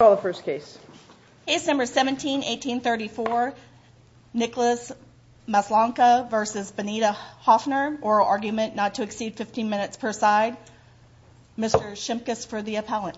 Case No. 17-1834 Nicholas Maslonka v. Bonita Hoffner Oral Argument not to exceed 15 minutes per side Mr. Shimkus for the appellant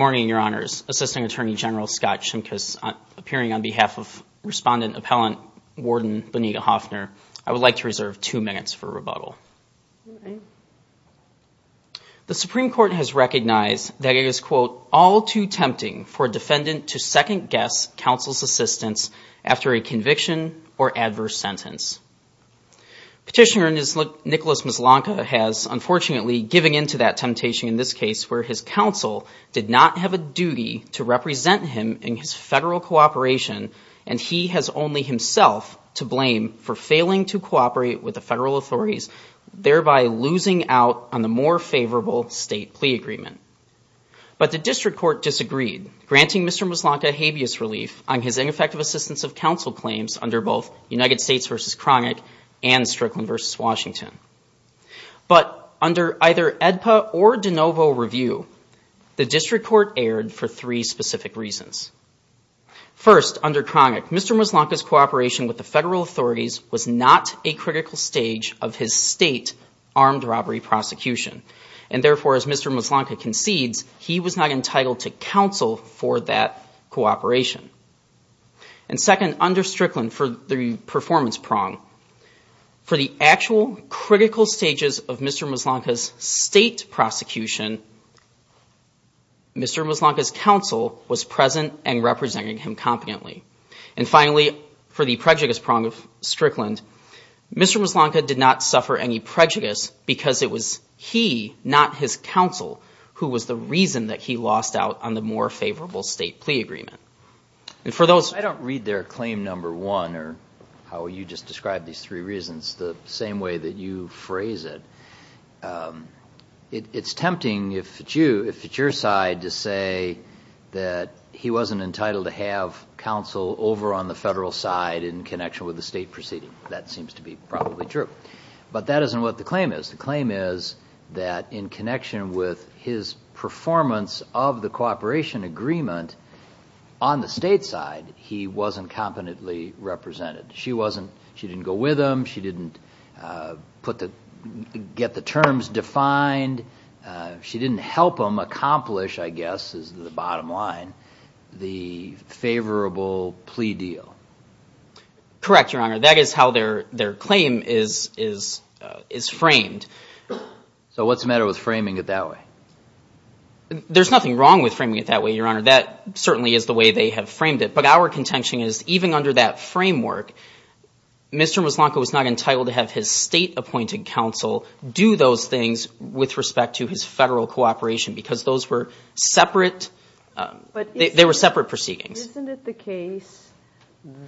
Good morning, your honors. Assisting Attorney General Scott Shimkus appearing on behalf of Respondent Appellant Warden Bonita Hoffner I would like to reserve two minutes for rebuttal. The Supreme Court has recognized that it is all too tempting for a defendant to second-guess counsel's assistance after a conviction or adverse sentence. Petitioner Nicholas Maslonka has unfortunately given into that temptation in this case where his counsel did not have a duty to represent him in his federal cooperation and he has only himself to blame for failing to cooperate with the federal authorities thereby losing out on the more favorable state plea agreement. But the district court disagreed granting Mr. Maslonka habeas relief on his ineffective assistance of counsel claims under both United States v. Cronick and Strickland v. Washington. But under either AEDPA or De Novo review the district court erred for three specific reasons. First, under Cronick, Mr. Maslonka's cooperation with the federal authorities was not a critical stage of his state armed robbery prosecution and therefore as Mr. Maslonka concedes he was not entitled to counsel for that cooperation. And second, under Strickland for the performance prong for the actual critical stages of Mr. Maslonka's state prosecution Mr. Maslonka's counsel was present and representing him competently. And finally, for the prejudice prong of Strickland Mr. Maslonka did not suffer any prejudice because it was he, not his counsel who was the reason that he lost out on the more favorable state plea agreement. I don't read there claim number one or how you just described these three reasons the same way that you phrase it. It's tempting if it's you, if it's your side to say that he wasn't entitled to have counsel over on the federal side in connection with the state proceeding. That seems to be probably true. But that isn't what the claim is. The claim is that in connection with his performance of the cooperation agreement on the state side he wasn't competently represented. She didn't go with him. She didn't get the terms defined. She didn't help him accomplish, I guess is the bottom line the favorable plea deal. Correct, Your Honor. That is how their claim is framed. So what's the matter with framing it that way? There's nothing wrong with framing it that way, Your Honor. That certainly is the way they have framed it. But our contention is even under that framework Mr. Muslanka was not entitled to have his state appointed counsel do those things with respect to his federal cooperation because those were separate. They were separate proceedings. But isn't it the case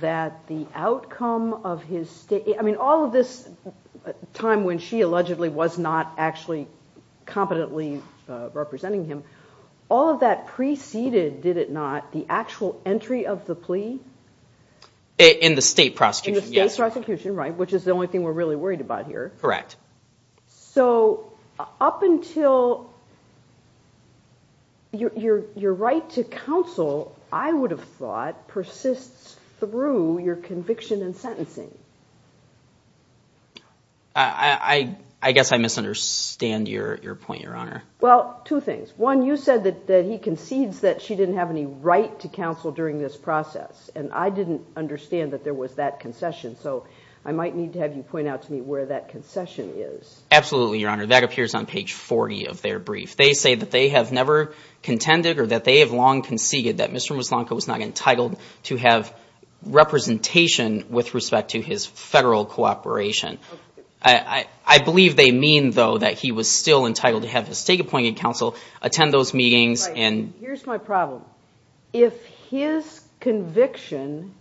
that the outcome of his state I mean all of this time when she allegedly was not actually competently representing him all of that preceded, did it not, the actual entry of the plea? In the state prosecution, yes. In the state prosecution, right, which is the only thing we're really worried about here. Correct. So up until your right to counsel I would have thought persists through your conviction and sentencing. I guess I misunderstand your point, Your Honor. Well, two things. One, you said that he concedes that she didn't have any right to counsel during this process. And I didn't understand that there was that concession. So I might need to have you point out to me where that concession is. Absolutely, Your Honor. That appears on page 40 of their brief. They say that they have never contended or that they have long conceded that Mr. Muslanka was not entitled to have representation with respect to his federal cooperation. I believe they mean, though, that he was still entitled to have his state appointed counsel attend those meetings and Here's my problem. If his conviction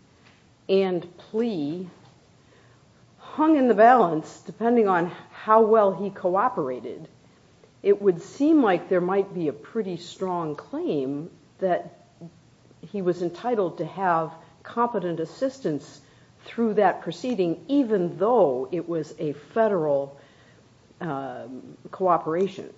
and plea hung in the balance depending on how well he cooperated, it would seem like there might be a pretty strong claim that he was entitled to have competent assistance through that proceeding even though it was a federal cooperation.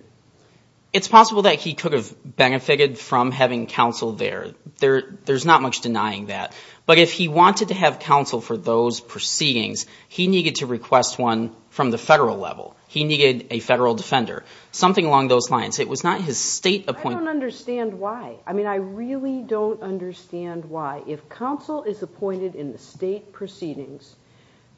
It's possible that he could have benefited from having counsel there. There's not much denying that. But if he wanted to have counsel for those proceedings, he needed to request one from the federal level. He needed a federal defender. Something along those lines. It was not his state appointment. I don't understand why. I mean, I really don't understand why. If counsel is appointed in the state proceedings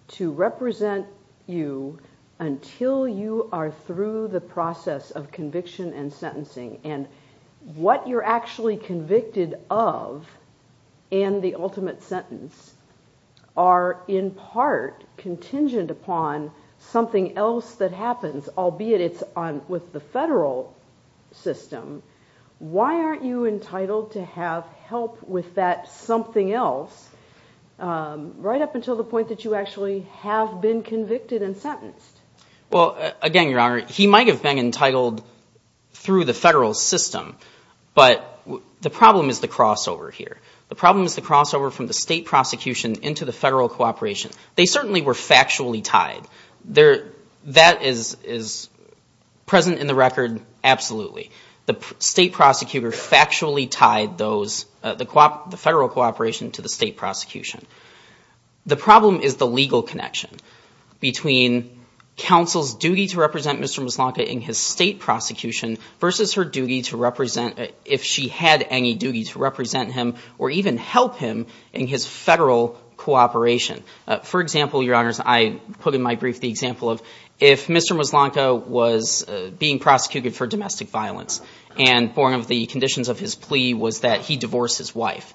to represent you until you are through the process of conviction and sentencing, and what you're actually convicted of and the ultimate sentence are in part contingent upon something else that happens, albeit it's with the federal system, why aren't you entitled to have help with that something else right up until the point that you actually have been convicted and sentenced? Well, again, Your Honor, he might have been entitled through the federal system, but the problem is the crossover here. The problem is the crossover from the state prosecution into the federal cooperation. They certainly were factually tied. That is present in the record absolutely. The state prosecutor factually tied the federal cooperation to the state prosecution. The problem is the legal connection between counsel's duty to represent Mr. Muslanka in his state prosecution versus her duty to represent, if she had any duty to represent him or even help him in his federal cooperation. For example, Your Honors, I put in my brief the example of if Mr. Muslanka was being prosecuted for domestic violence and one of the conditions of his plea was that he divorce his wife.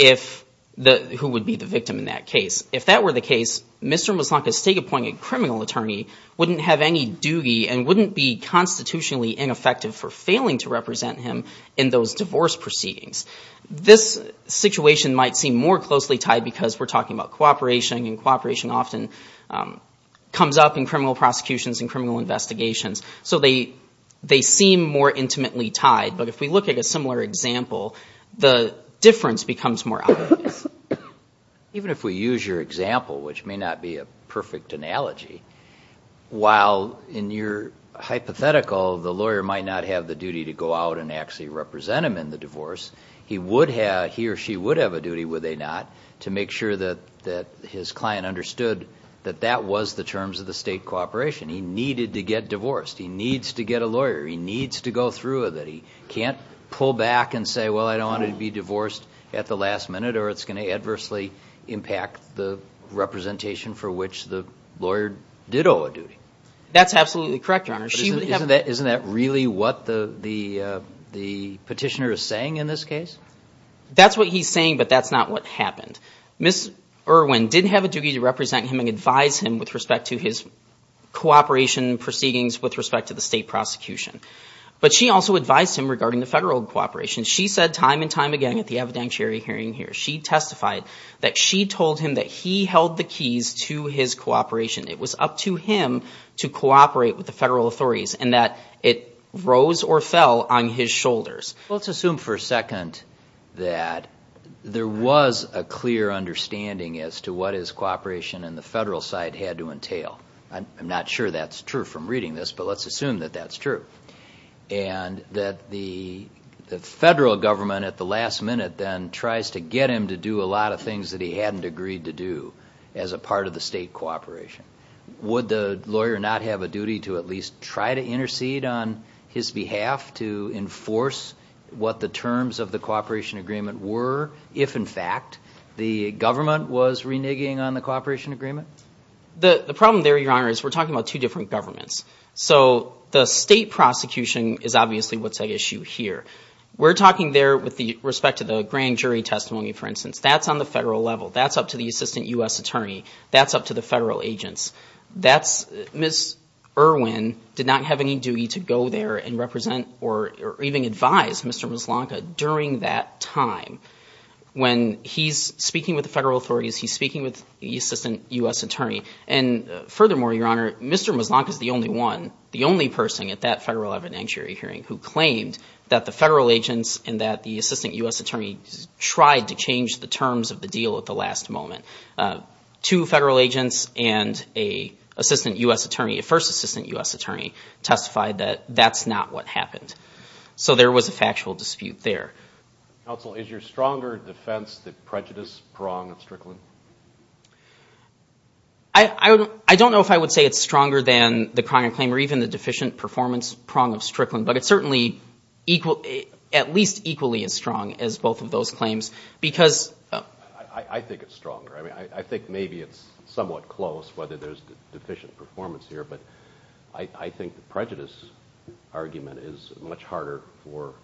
Who would be the victim in that case? If that were the case, Mr. Muslanka's state appointed criminal attorney wouldn't have any duty and wouldn't be constitutionally ineffective for failing to represent him in those divorce proceedings. This situation might seem more closely tied because we're talking about cooperation and cooperation often comes up in criminal prosecutions and criminal investigations, so they seem more intimately tied. But if we look at a similar example, the difference becomes more obvious. Even if we use your example, which may not be a perfect analogy, while in your hypothetical, the lawyer might not have the duty to go out and actually represent him in the divorce, he or she would have a duty, would they not, to make sure that his client understood that that was the terms of the state cooperation. He needed to get divorced. He needs to get a lawyer. He needs to go through with it. He can't pull back and say, well, I don't want to be divorced at the last minute or it's going to adversely impact the representation for which the lawyer did owe a duty. That's absolutely correct, Your Honor. Isn't that really what the petitioner is saying in this case? That's what he's saying, but that's not what happened. Ms. Irwin didn't have a duty to represent him and advise him with respect to his cooperation proceedings with respect to the state prosecution. But she also advised him regarding the federal cooperation. She said time and time again at the evidentiary hearing here, she testified that she told him that he held the keys to his cooperation. It was up to him to cooperate with the federal authorities and that it rose or fell on his shoulders. Let's assume for a second that there was a clear understanding as to what his cooperation on the federal side had to entail. I'm not sure that's true from reading this, but let's assume that that's true. And that the federal government at the last minute then tries to get him to do a lot of things that he hadn't agreed to do as a part of the state cooperation. Would the lawyer not have a duty to at least try to intercede on his behalf to enforce what the terms of the cooperation agreement were, if in fact the government was reneging on the cooperation agreement? The problem there, Your Honor, is we're talking about two different governments. So the state prosecution is obviously what's at issue here. We're talking there with respect to the grand jury testimony, for instance. That's on the federal level. That's up to the assistant U.S. attorney. That's up to the federal agents. Ms. Irwin did not have any duty to go there and represent or even advise Mr. Muslanka during that time. When he's speaking with the federal authorities, he's speaking with the assistant U.S. attorney. And furthermore, Your Honor, Mr. Muslanka's the only one, the only person at that federal evidentiary hearing who claimed that the federal agents and that the assistant U.S. attorney tried to change the terms of the deal at the last moment. Two federal agents and a first assistant U.S. attorney testified that that's not what happened. So there was a factual dispute there. Counsel, is your stronger defense that prejudice pronged Strickland? I don't know if I would say it's stronger than the crime claim or even the deficient performance prong of Strickland, but it's certainly at least equally as strong as both of those claims because... I think it's stronger. I mean, I think maybe it's somewhat close, whether there's deficient performance here, but I think the prejudice argument is much harder for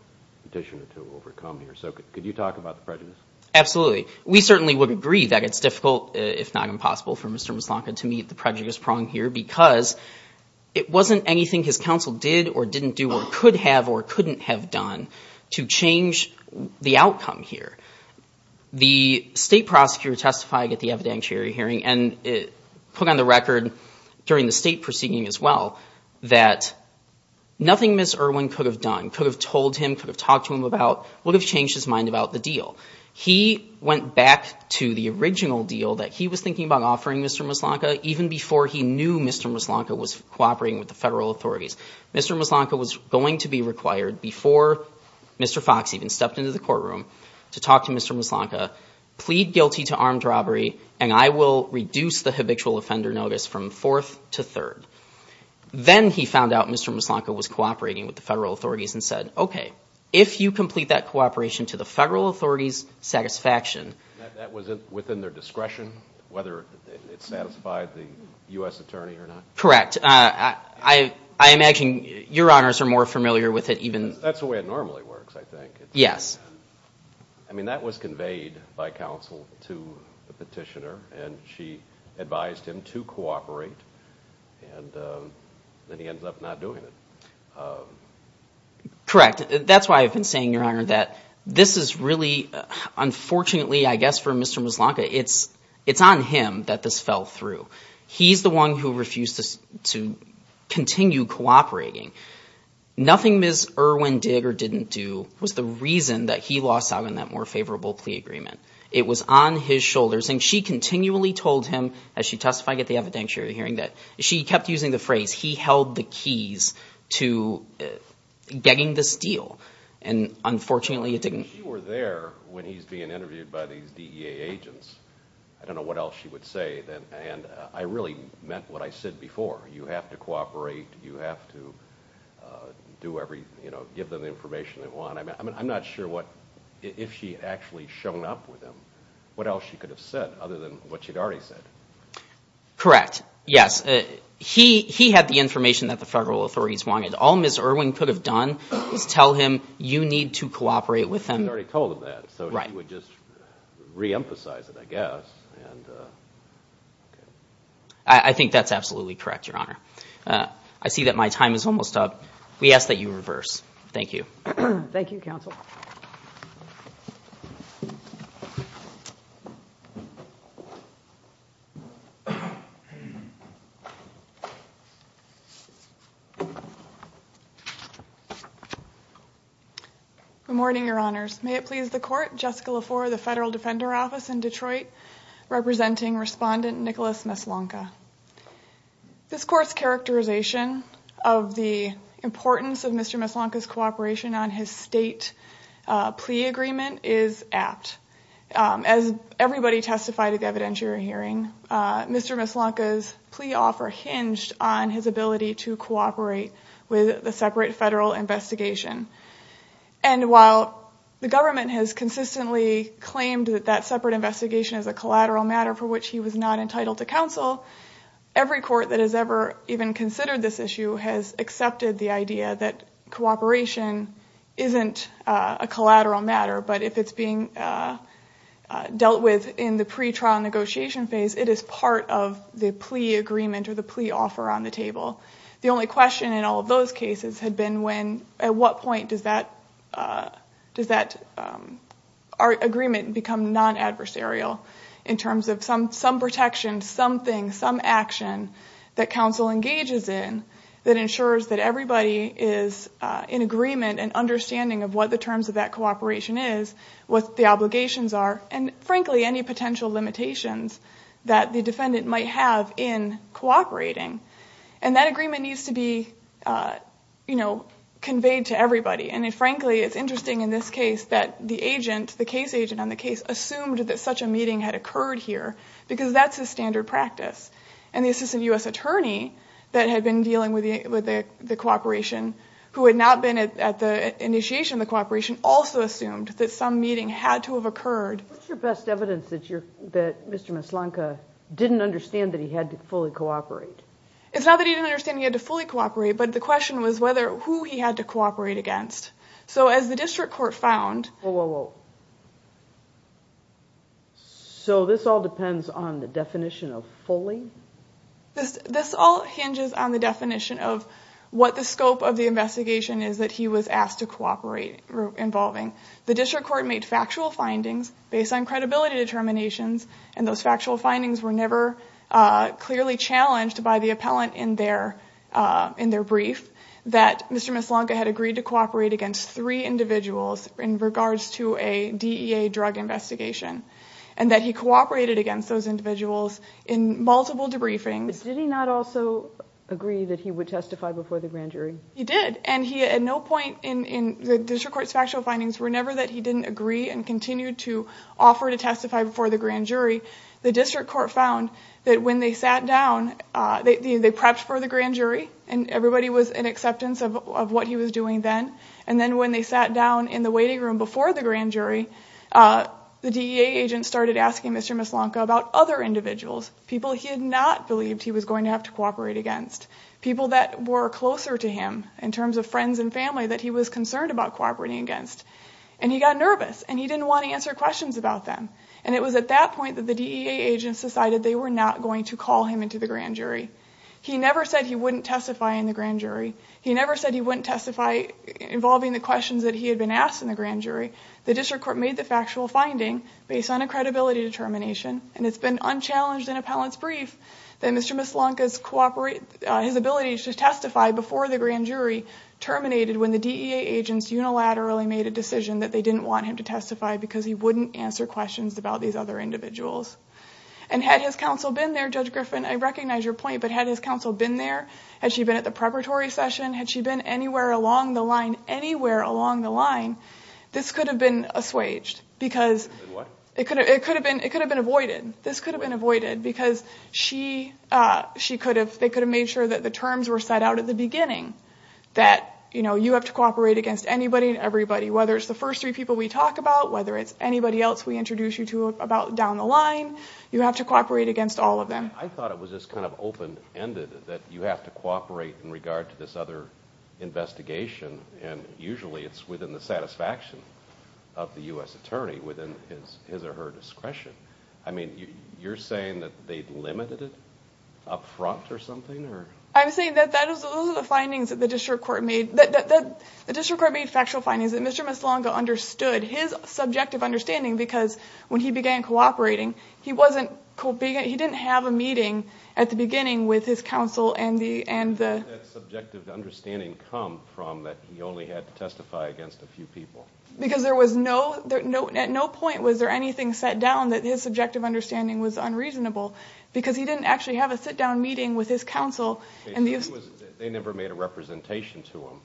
petitioner to overcome here. So could you talk about the prejudice? Absolutely. We certainly would agree that it's difficult, if not impossible, for Mr. Mislanka to meet the prejudice prong here because it wasn't anything his counsel did or didn't do or could have or couldn't have done to change the outcome here. The state prosecutor testified at the evidentiary hearing and put on the record during the state proceeding as well that nothing Ms. Irwin could have done, could have told him, could have talked to him about, would have changed his mind about the deal. He went back to the original deal that he was thinking about offering Mr. Mislanka even before he knew Mr. Mislanka was cooperating with the federal authorities. Mr. Mislanka was going to be required before Mr. Fox even stepped into the courtroom to talk to Mr. Mislanka, plead guilty to armed robbery, and I will reduce the habitual offender notice from fourth to third. Then he found out Mr. Mislanka was cooperating with the federal authorities and said, okay, if you complete that cooperation to the federal authorities' satisfaction... That was within their discretion, whether it satisfied the U.S. attorney or not? Correct. I imagine your honors are more familiar with it even... That's the way it normally works, I think. Yes. I mean, that was conveyed by counsel to the petitioner and she advised him to cooperate and then he ends up not doing it. Correct. That's why I've been saying, your honor, that this is really, unfortunately, I guess for Mr. Mislanka, it's on him that this fell through. He's the one who refused to continue cooperating. Nothing Ms. Irwin did or didn't do was the reason that he lost out on that more favorable plea agreement. It was on his shoulders, as she testified at the evidentiary hearing, that she kept using the phrase, he held the keys to getting this deal. And, unfortunately, it didn't... If she were there when he's being interviewed by these DEA agents, I don't know what else she would say. And I really meant what I said before. You have to cooperate. You have to give them the information they want. I'm not sure if she had actually shown up with him, what else she could have said other than what she'd already said. Correct. Yes. He had the information that the federal authorities wanted. All Ms. Irwin could have done was tell him, you need to cooperate with them. She'd already told him that, so she would just reemphasize it, I guess. I think that's absolutely correct, Your Honor. I see that my time is almost up. We ask that you reverse. Thank you. Thank you, Counsel. Good morning, Your Honors. May it please the Court, Jessica LaFleur of the Federal Defender Office in Detroit, representing Respondent Nicholas Meslanka. This Court's characterization of the importance of Mr. Meslanka's cooperation on his state plea agreement is apt. As everybody testified at the evidentiary hearing, Mr. Meslanka's plea offer hinged on his ability to cooperate with the separate federal investigation. And while the government has consistently claimed that that separate investigation is a collateral matter for which he was not entitled to counsel, every court that has ever even considered this issue has accepted the idea that cooperation isn't a collateral matter, but if it's being dealt with in the pretrial negotiation phase, it is part of the plea agreement or the plea offer on the table. The only question in all of those cases had been when, at what point, does that agreement become non-adversarial in terms of some protection, something, some action that counsel engages in that ensures that everybody is in agreement and understanding of what the terms of that cooperation is, what the obligations are, and frankly, any potential limitations that the defendant might have in cooperating. And that agreement needs to be, you know, conveyed to everybody. And frankly, it's interesting in this case that the agent, the case agent on the case, assumed that such a meeting had occurred here because that's his standard practice. And the assistant U.S. attorney that had been dealing with the cooperation who had not been at the initiation of the cooperation also assumed that some meeting had to have occurred. What's your best evidence that you're, that Mr. Maslanka didn't understand that he had to fully cooperate? It's not that he didn't understand he had to fully cooperate, but the question was whether, who he had to cooperate against. So as the district court found... Whoa, whoa, whoa. So this all depends on the definition of fully? This all hinges on the definition of what the scope of the investigation is that he was asked to cooperate involving. The district court made factual findings based on credibility determinations and those factual findings were never clearly challenged by the appellant in their brief that Mr. Maslanka had agreed to cooperate against three individuals in regards to a DEA drug investigation and that he cooperated against those individuals in multiple debriefings. Did he not also agree that he would testify before the grand jury? He did and he at no point in, the district court's factual findings were never that he didn't agree and continued to offer to testify before the grand jury. The district court found that when they sat down, they prepped for the grand jury and everybody was in acceptance of what he was doing then and then when they sat down in the waiting room before the grand jury, the DEA agent started asking Mr. Maslanka about other individuals, people he had not believed he was going to have to cooperate against, people that were closer to him in terms of friends and family that he was concerned about cooperating against and he got nervous and he didn't want to answer questions about them and it was at that point that the DEA agents decided they were not going to call him into the grand jury. He never said he wouldn't testify in the grand jury. He never said he wouldn't testify involving the questions that he had been asked in the grand jury. The district court made the factual finding based on a credibility determination and it's been unchallenged in appellant's brief that Mr. Maslanka's ability to testify before the grand jury terminated when the DEA agents unilaterally made a decision that they didn't want him to testify because he wouldn't answer questions about these other individuals. And had his counsel been there, Judge Griffin, I recognize your point, but had his counsel been there, had she been at the preparatory session, had she been anywhere along the line, anywhere along the line, this could have been assuaged because it could have been avoided. This could have been avoided because they could have made sure that the terms were set out at the beginning that you have to cooperate against anybody and everybody, whether it's the first three people we talk about, whether it's anybody else we introduce you to down the line, you have to cooperate against all of them. I thought it was just kind of open-ended that you have to cooperate in regard to this other investigation and usually it's within the satisfaction of the U.S. attorney within his or her discretion. I mean, you're saying that they limited it up front or something? I'm saying that those are the findings that the district court made. The district court made factual findings that Mr. Misalonga understood his subjective understanding because when he began cooperating, he didn't have a meeting at the beginning with his counsel and the... Where did that subjective understanding come from that he only had to testify against a few people? Because at no point was there anything set down that his subjective understanding was unreasonable because he didn't actually have a sit-down meeting with his counsel and these... They never made a representation to him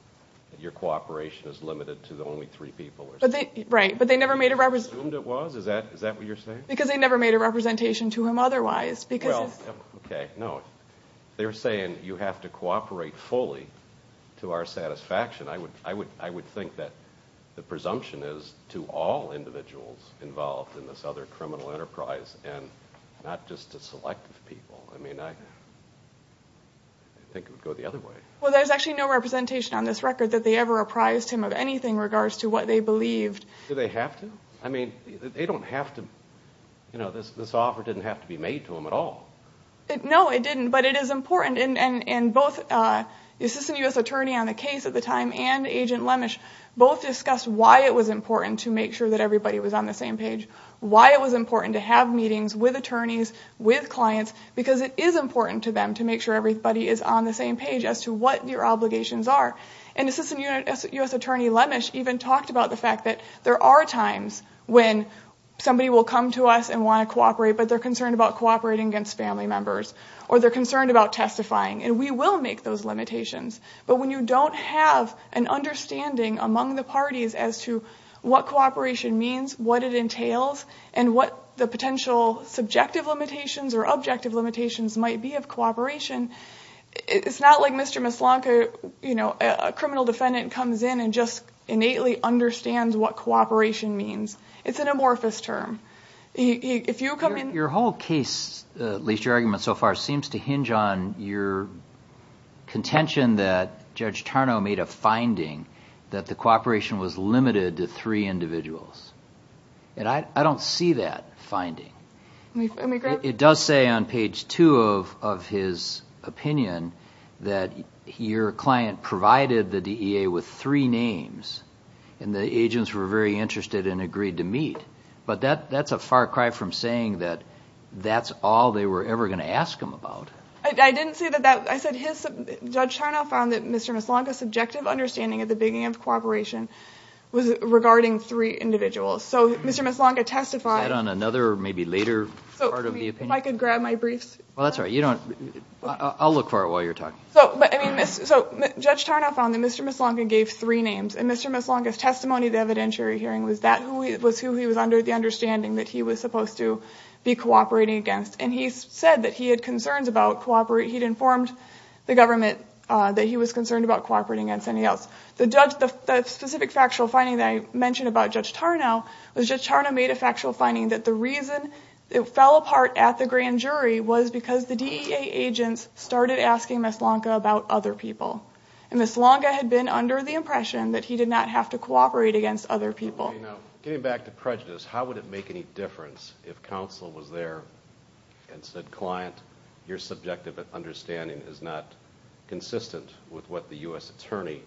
that your cooperation is limited to the only three people or something? Right, but they never made a representation... They assumed it was? Is that what you're saying? Because they never made a representation to him otherwise because... Well, okay, no. They're saying you have to cooperate fully to our satisfaction. I would think that the presumption is to all individuals involved in this other criminal enterprise and not just to selective people. I mean, I think it would go the other way. Well, there's actually no representation on this record that they ever apprised him of anything in regards to what they believed. Did they have to? I mean, they don't have to... This offer didn't have to be made to him at all. No, it didn't, but it is important, and both the assistant U.S. attorney on the case at the time and Agent Lemesh both discussed why it was important to make sure that everybody was on the same page, why it was important to have meetings with attorneys, with clients, because it is important to them to make sure everybody is on the same page as to what your obligations are. And assistant U.S. attorney Lemesh even talked about the fact that there are times when somebody will come to us and want to cooperate, but they're concerned about cooperating against family members, or they're concerned about testifying, and we will make those limitations. But when you don't have an understanding among the parties as to what cooperation means, what it entails, and what the potential subjective limitations or objective limitations might be of cooperation, it's not like Mr. Mislanka, a criminal defendant, comes in and just innately understands what cooperation means. It's an amorphous term. If you come in... Your whole case, at least your argument so far, seems to hinge on your contention that Judge Tarnow made a finding that the cooperation was limited to three individuals. And I don't see that finding. It does say on page 2 of his opinion that your client provided the DEA with three names, and the agents were very interested and agreed to meet. But that's a far cry from saying that that's all they were ever going to ask him about. I didn't say that. I said Judge Tarnow found that Mr. Mislanka's subjective understanding of the beginning of cooperation was regarding three individuals. So Mr. Mislanka testified... Is that on another, maybe later part of the opinion? If I could grab my briefs. Well, that's all right. I'll look for it while you're talking. So Judge Tarnow found that Mr. Mislanka gave three names, and Mr. Mislanka's testimony at the evidentiary hearing was who he was under the understanding that he was supposed to be cooperating against. And he said that he had concerns about... He'd informed the government that he was concerned about cooperating against anybody else. The specific factual finding that I mentioned about Judge Tarnow was Judge Tarnow made a factual finding that the reason it fell apart at the grand jury was because the DEA agents started asking Mislanka about other people. And Mislanka had been under the impression that he did not have to cooperate against other people. Getting back to prejudice, how would it make any difference if counsel was there and said, Client, your subjective understanding is not consistent with what the U.S. attorney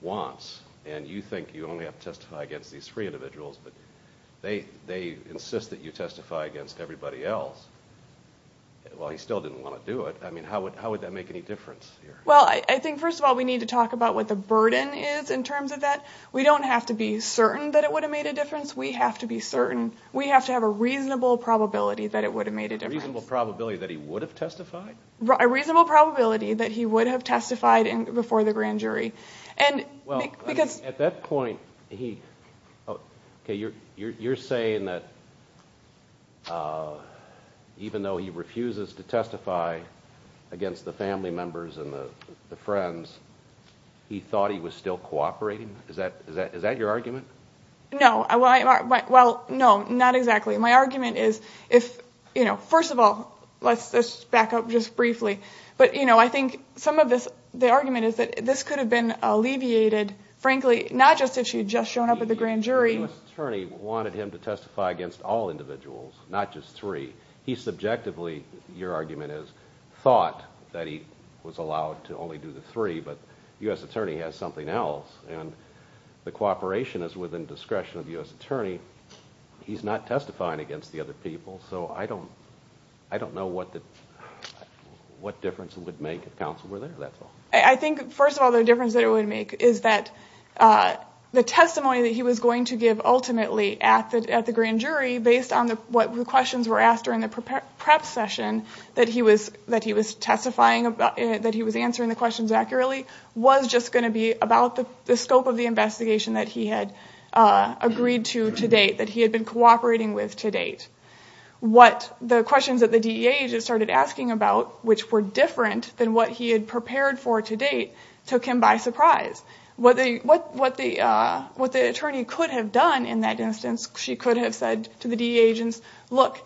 wants, and you think you only have to testify against these three individuals, but they insist that you testify against everybody else. Well, he still didn't want to do it. I mean, how would that make any difference here? Well, I think, first of all, we need to talk about what the burden is in terms of that. We don't have to be certain that it would have made a difference. We have to be certain. We have to have a reasonable probability that it would have made a difference. A reasonable probability that he would have testified? A reasonable probability that he would have testified before the grand jury. Well, at that point, you're saying that even though he refuses to testify against the family members and the friends, he thought he was still cooperating? Is that your argument? No. Well, no, not exactly. My argument is, first of all, let's back up just briefly, but I think some of the argument is that this could have been alleviated, frankly, not just if she had just shown up at the grand jury. The U.S. attorney wanted him to testify against all individuals, not just three. He subjectively, your argument is, thought that he was allowed to only do the three, but the U.S. attorney has something else, and the cooperation is within discretion of the U.S. attorney. He's not testifying against the other people, so I don't know what difference it would make if counsel were there, that's all. I think, first of all, the difference that it would make is that the testimony that he was going to give ultimately at the grand jury, based on what questions were asked during the prep session that he was testifying, that he was answering the questions accurately, was just going to be about the scope of the investigation that he had agreed to to date, that he had been cooperating with to date. What the questions that the DEA agents started asking about, which were different than what he had prepared for to date, took him by surprise. What the attorney could have done in that instance, she could have said to the DEA agents, look,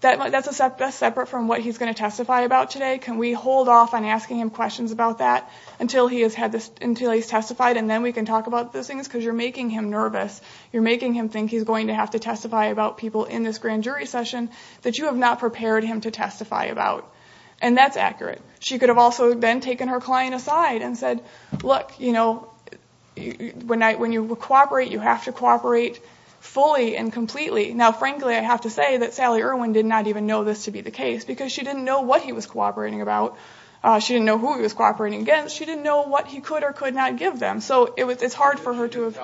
that's separate from what he's going to testify about today. Can we hold off on asking him questions about that until he's testified, and then we can talk about those things? Because you're making him nervous. You're making him think he's going to have to testify about people in this grand jury session that you have not prepared him to testify about. And that's accurate. She could have also then taken her client aside and said, look, when you cooperate, you have to cooperate fully and completely. Now, frankly, I have to say that Sally Irwin did not even know this to be the case because she didn't know what he was cooperating about. She didn't know who he was cooperating against. She didn't know what he could or could not give them. So it's hard for her to have...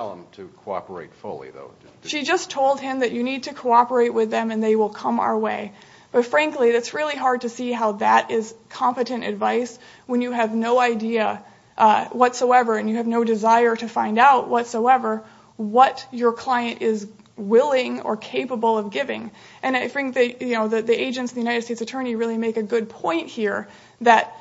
You need to cooperate with them, and they will come our way. But frankly, it's really hard to see how that is competent advice when you have no idea whatsoever and you have no desire to find out whatsoever what your client is willing or capable of giving. And I think the agents and the United States Attorney really make a good point here that...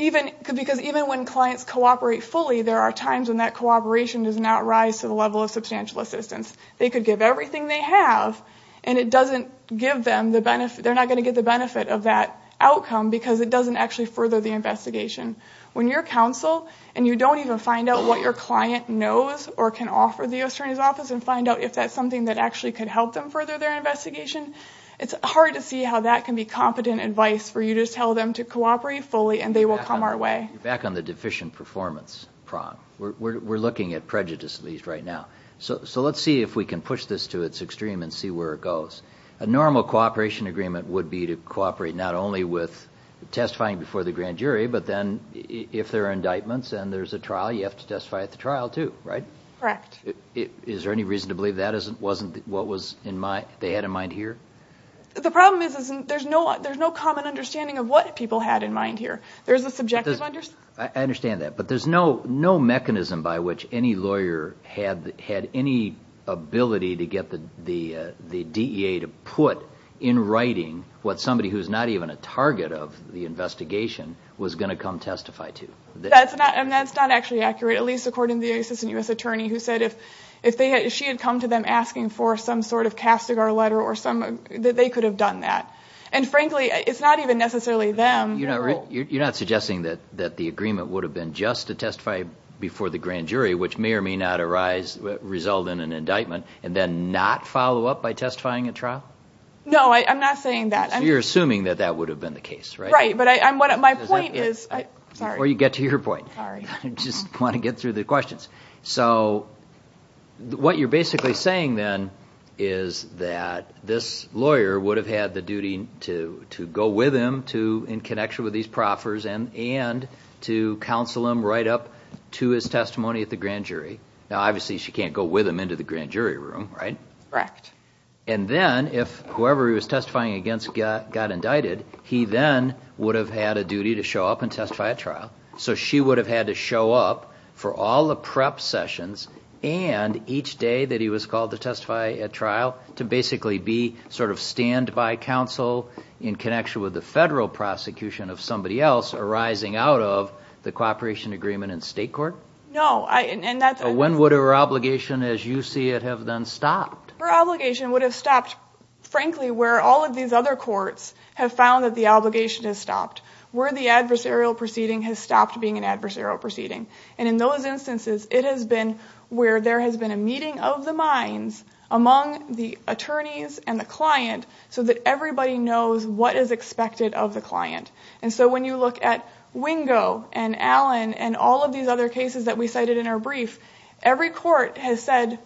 Because even when clients cooperate fully, there are times when that cooperation does not rise to the level of substantial assistance. They could give everything they have, and it doesn't give them the benefit... They're not going to get the benefit of that outcome because it doesn't actually further the investigation. When you're counsel and you don't even find out what your client knows or can offer the U.S. Attorney's Office and find out if that's something that actually could help them further their investigation, it's hard to see how that can be competent advice where you just tell them to cooperate fully, and they will come our way. You're back on the deficient performance prong. We're looking at prejudice at least right now. So let's see if we can push this to its extreme and see where it goes. A normal cooperation agreement would be to cooperate not only with testifying before the grand jury, but then if there are indictments and there's a trial, you have to testify at the trial too, right? Correct. Is there any reason to believe that wasn't what they had in mind here? The problem is there's no common understanding of what people had in mind here. There's a subjective understanding. I understand that, but there's no mechanism by which any lawyer had any ability to get the DEA to put in writing what somebody who's not even a target of the investigation was going to come testify to. That's not actually accurate, at least according to the Assistant U.S. Attorney, who said if she had come to them asking for some sort of Castigar letter that they could have done that. And frankly, it's not even necessarily them. You're not suggesting that the agreement would have been just to testify before the grand jury, which may or may not result in an indictment, and then not follow up by testifying at trial? No, I'm not saying that. So you're assuming that that would have been the case, right? Right, but my point is, sorry. Before you get to your point. Sorry. I just want to get through the questions. So what you're basically saying then is that this lawyer would have had the duty to go with him in connection with these proffers and to counsel him right up to his testimony at the grand jury. Now, obviously she can't go with him into the grand jury room, right? Correct. And then if whoever he was testifying against got indicted, he then would have had a duty to show up and testify at trial. So she would have had to show up for all the prep sessions and each day that he was called to testify at trial to basically be sort of standby counsel in connection with the federal prosecution of somebody else arising out of the cooperation agreement in state court? No. When would her obligation as you see it have then stopped? Her obligation would have stopped, frankly, where all of these other courts have found that the obligation has stopped. Where the adversarial proceeding has stopped being an adversarial proceeding. And in those instances, it has been where there has been a meeting of the minds among the attorneys and the client so that everybody knows what is expected of the client. And so when you look at Wingo and Allen and all of these other cases that we cited in our brief, every court has said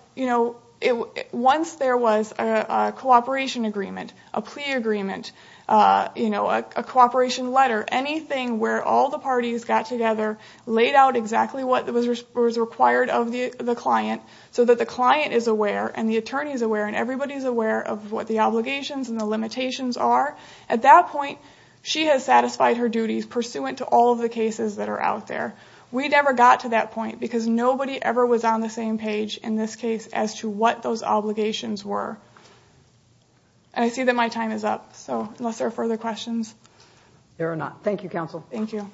once there was a cooperation agreement, a plea agreement, a cooperation letter, anything where all the parties got together, laid out exactly what was required of the client so that the client is aware and the attorney is aware and everybody is aware of what the obligations and the limitations are. At that point, she has satisfied her duties pursuant to all of the cases that are out there. We never got to that point because nobody ever was on the same page in this case as to what those obligations were. And I see that my time is up. So unless there are further questions. There are not. Thank you, counsel. Thank you.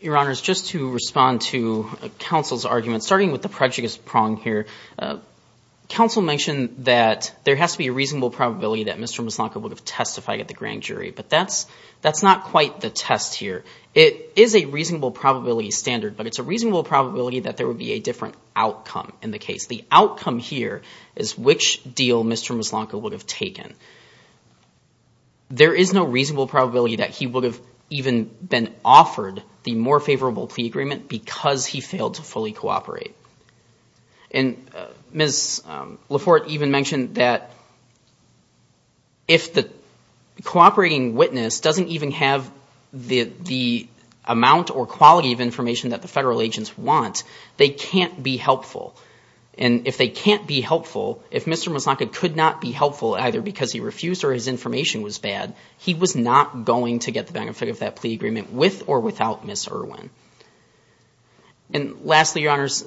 Your Honor, just to respond to counsel's argument, starting with the prejudice prong here, counsel mentioned that there has to be a reasonable probability that Mr. Musnaka would have testified at the grand jury, but that's not quite the test here. It is a reasonable probability standard, but it's a reasonable probability The outcome is that there would be a different outcome is which deal Mr. Musnaka would have taken. There is no reasonable probability that he would have even been offered the more favorable plea agreement because he failed to fully cooperate. And Ms. Laforte even mentioned that if the cooperating witness doesn't even have the amount or quality of information that the federal agents want, they can't be helpful. And if they can't be helpful, if Mr. Musnaka could not be helpful either because he refused or his information was bad, he was not going to get the benefit of that plea agreement with or without Ms. Irwin. And lastly, Your Honors,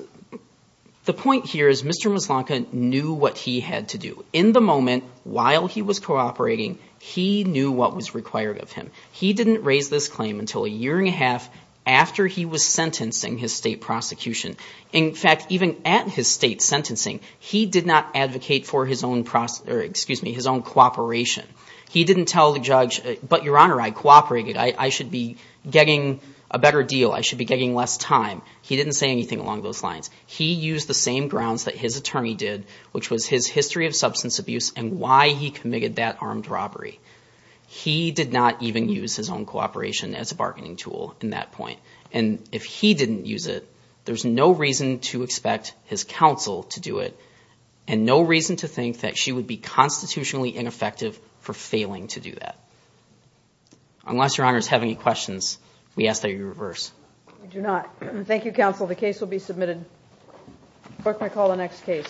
the point here is Mr. Musnaka knew what he had to do. In the moment, while he was cooperating, he knew what was required of him. He didn't raise this claim until a year and a half after he was sentencing his state prosecution. In fact, even at his state sentencing, he did not advocate for his own cooperation. He didn't tell the judge, but Your Honor, I cooperated. I should be getting a better deal. I should be getting less time. He didn't say anything along those lines. He used the same grounds that his attorney did, which was his history of substance abuse and why he committed that armed robbery. He did not even use his own cooperation as a bargaining tool in that point. And if he didn't use it, there's no reason to expect his counsel to do it and no reason to think that she would be constitutionally ineffective for failing to do that. Unless Your Honors have any questions, we ask that you reverse. We do not. Thank you, counsel. The case will be submitted. Clerk may call the next case.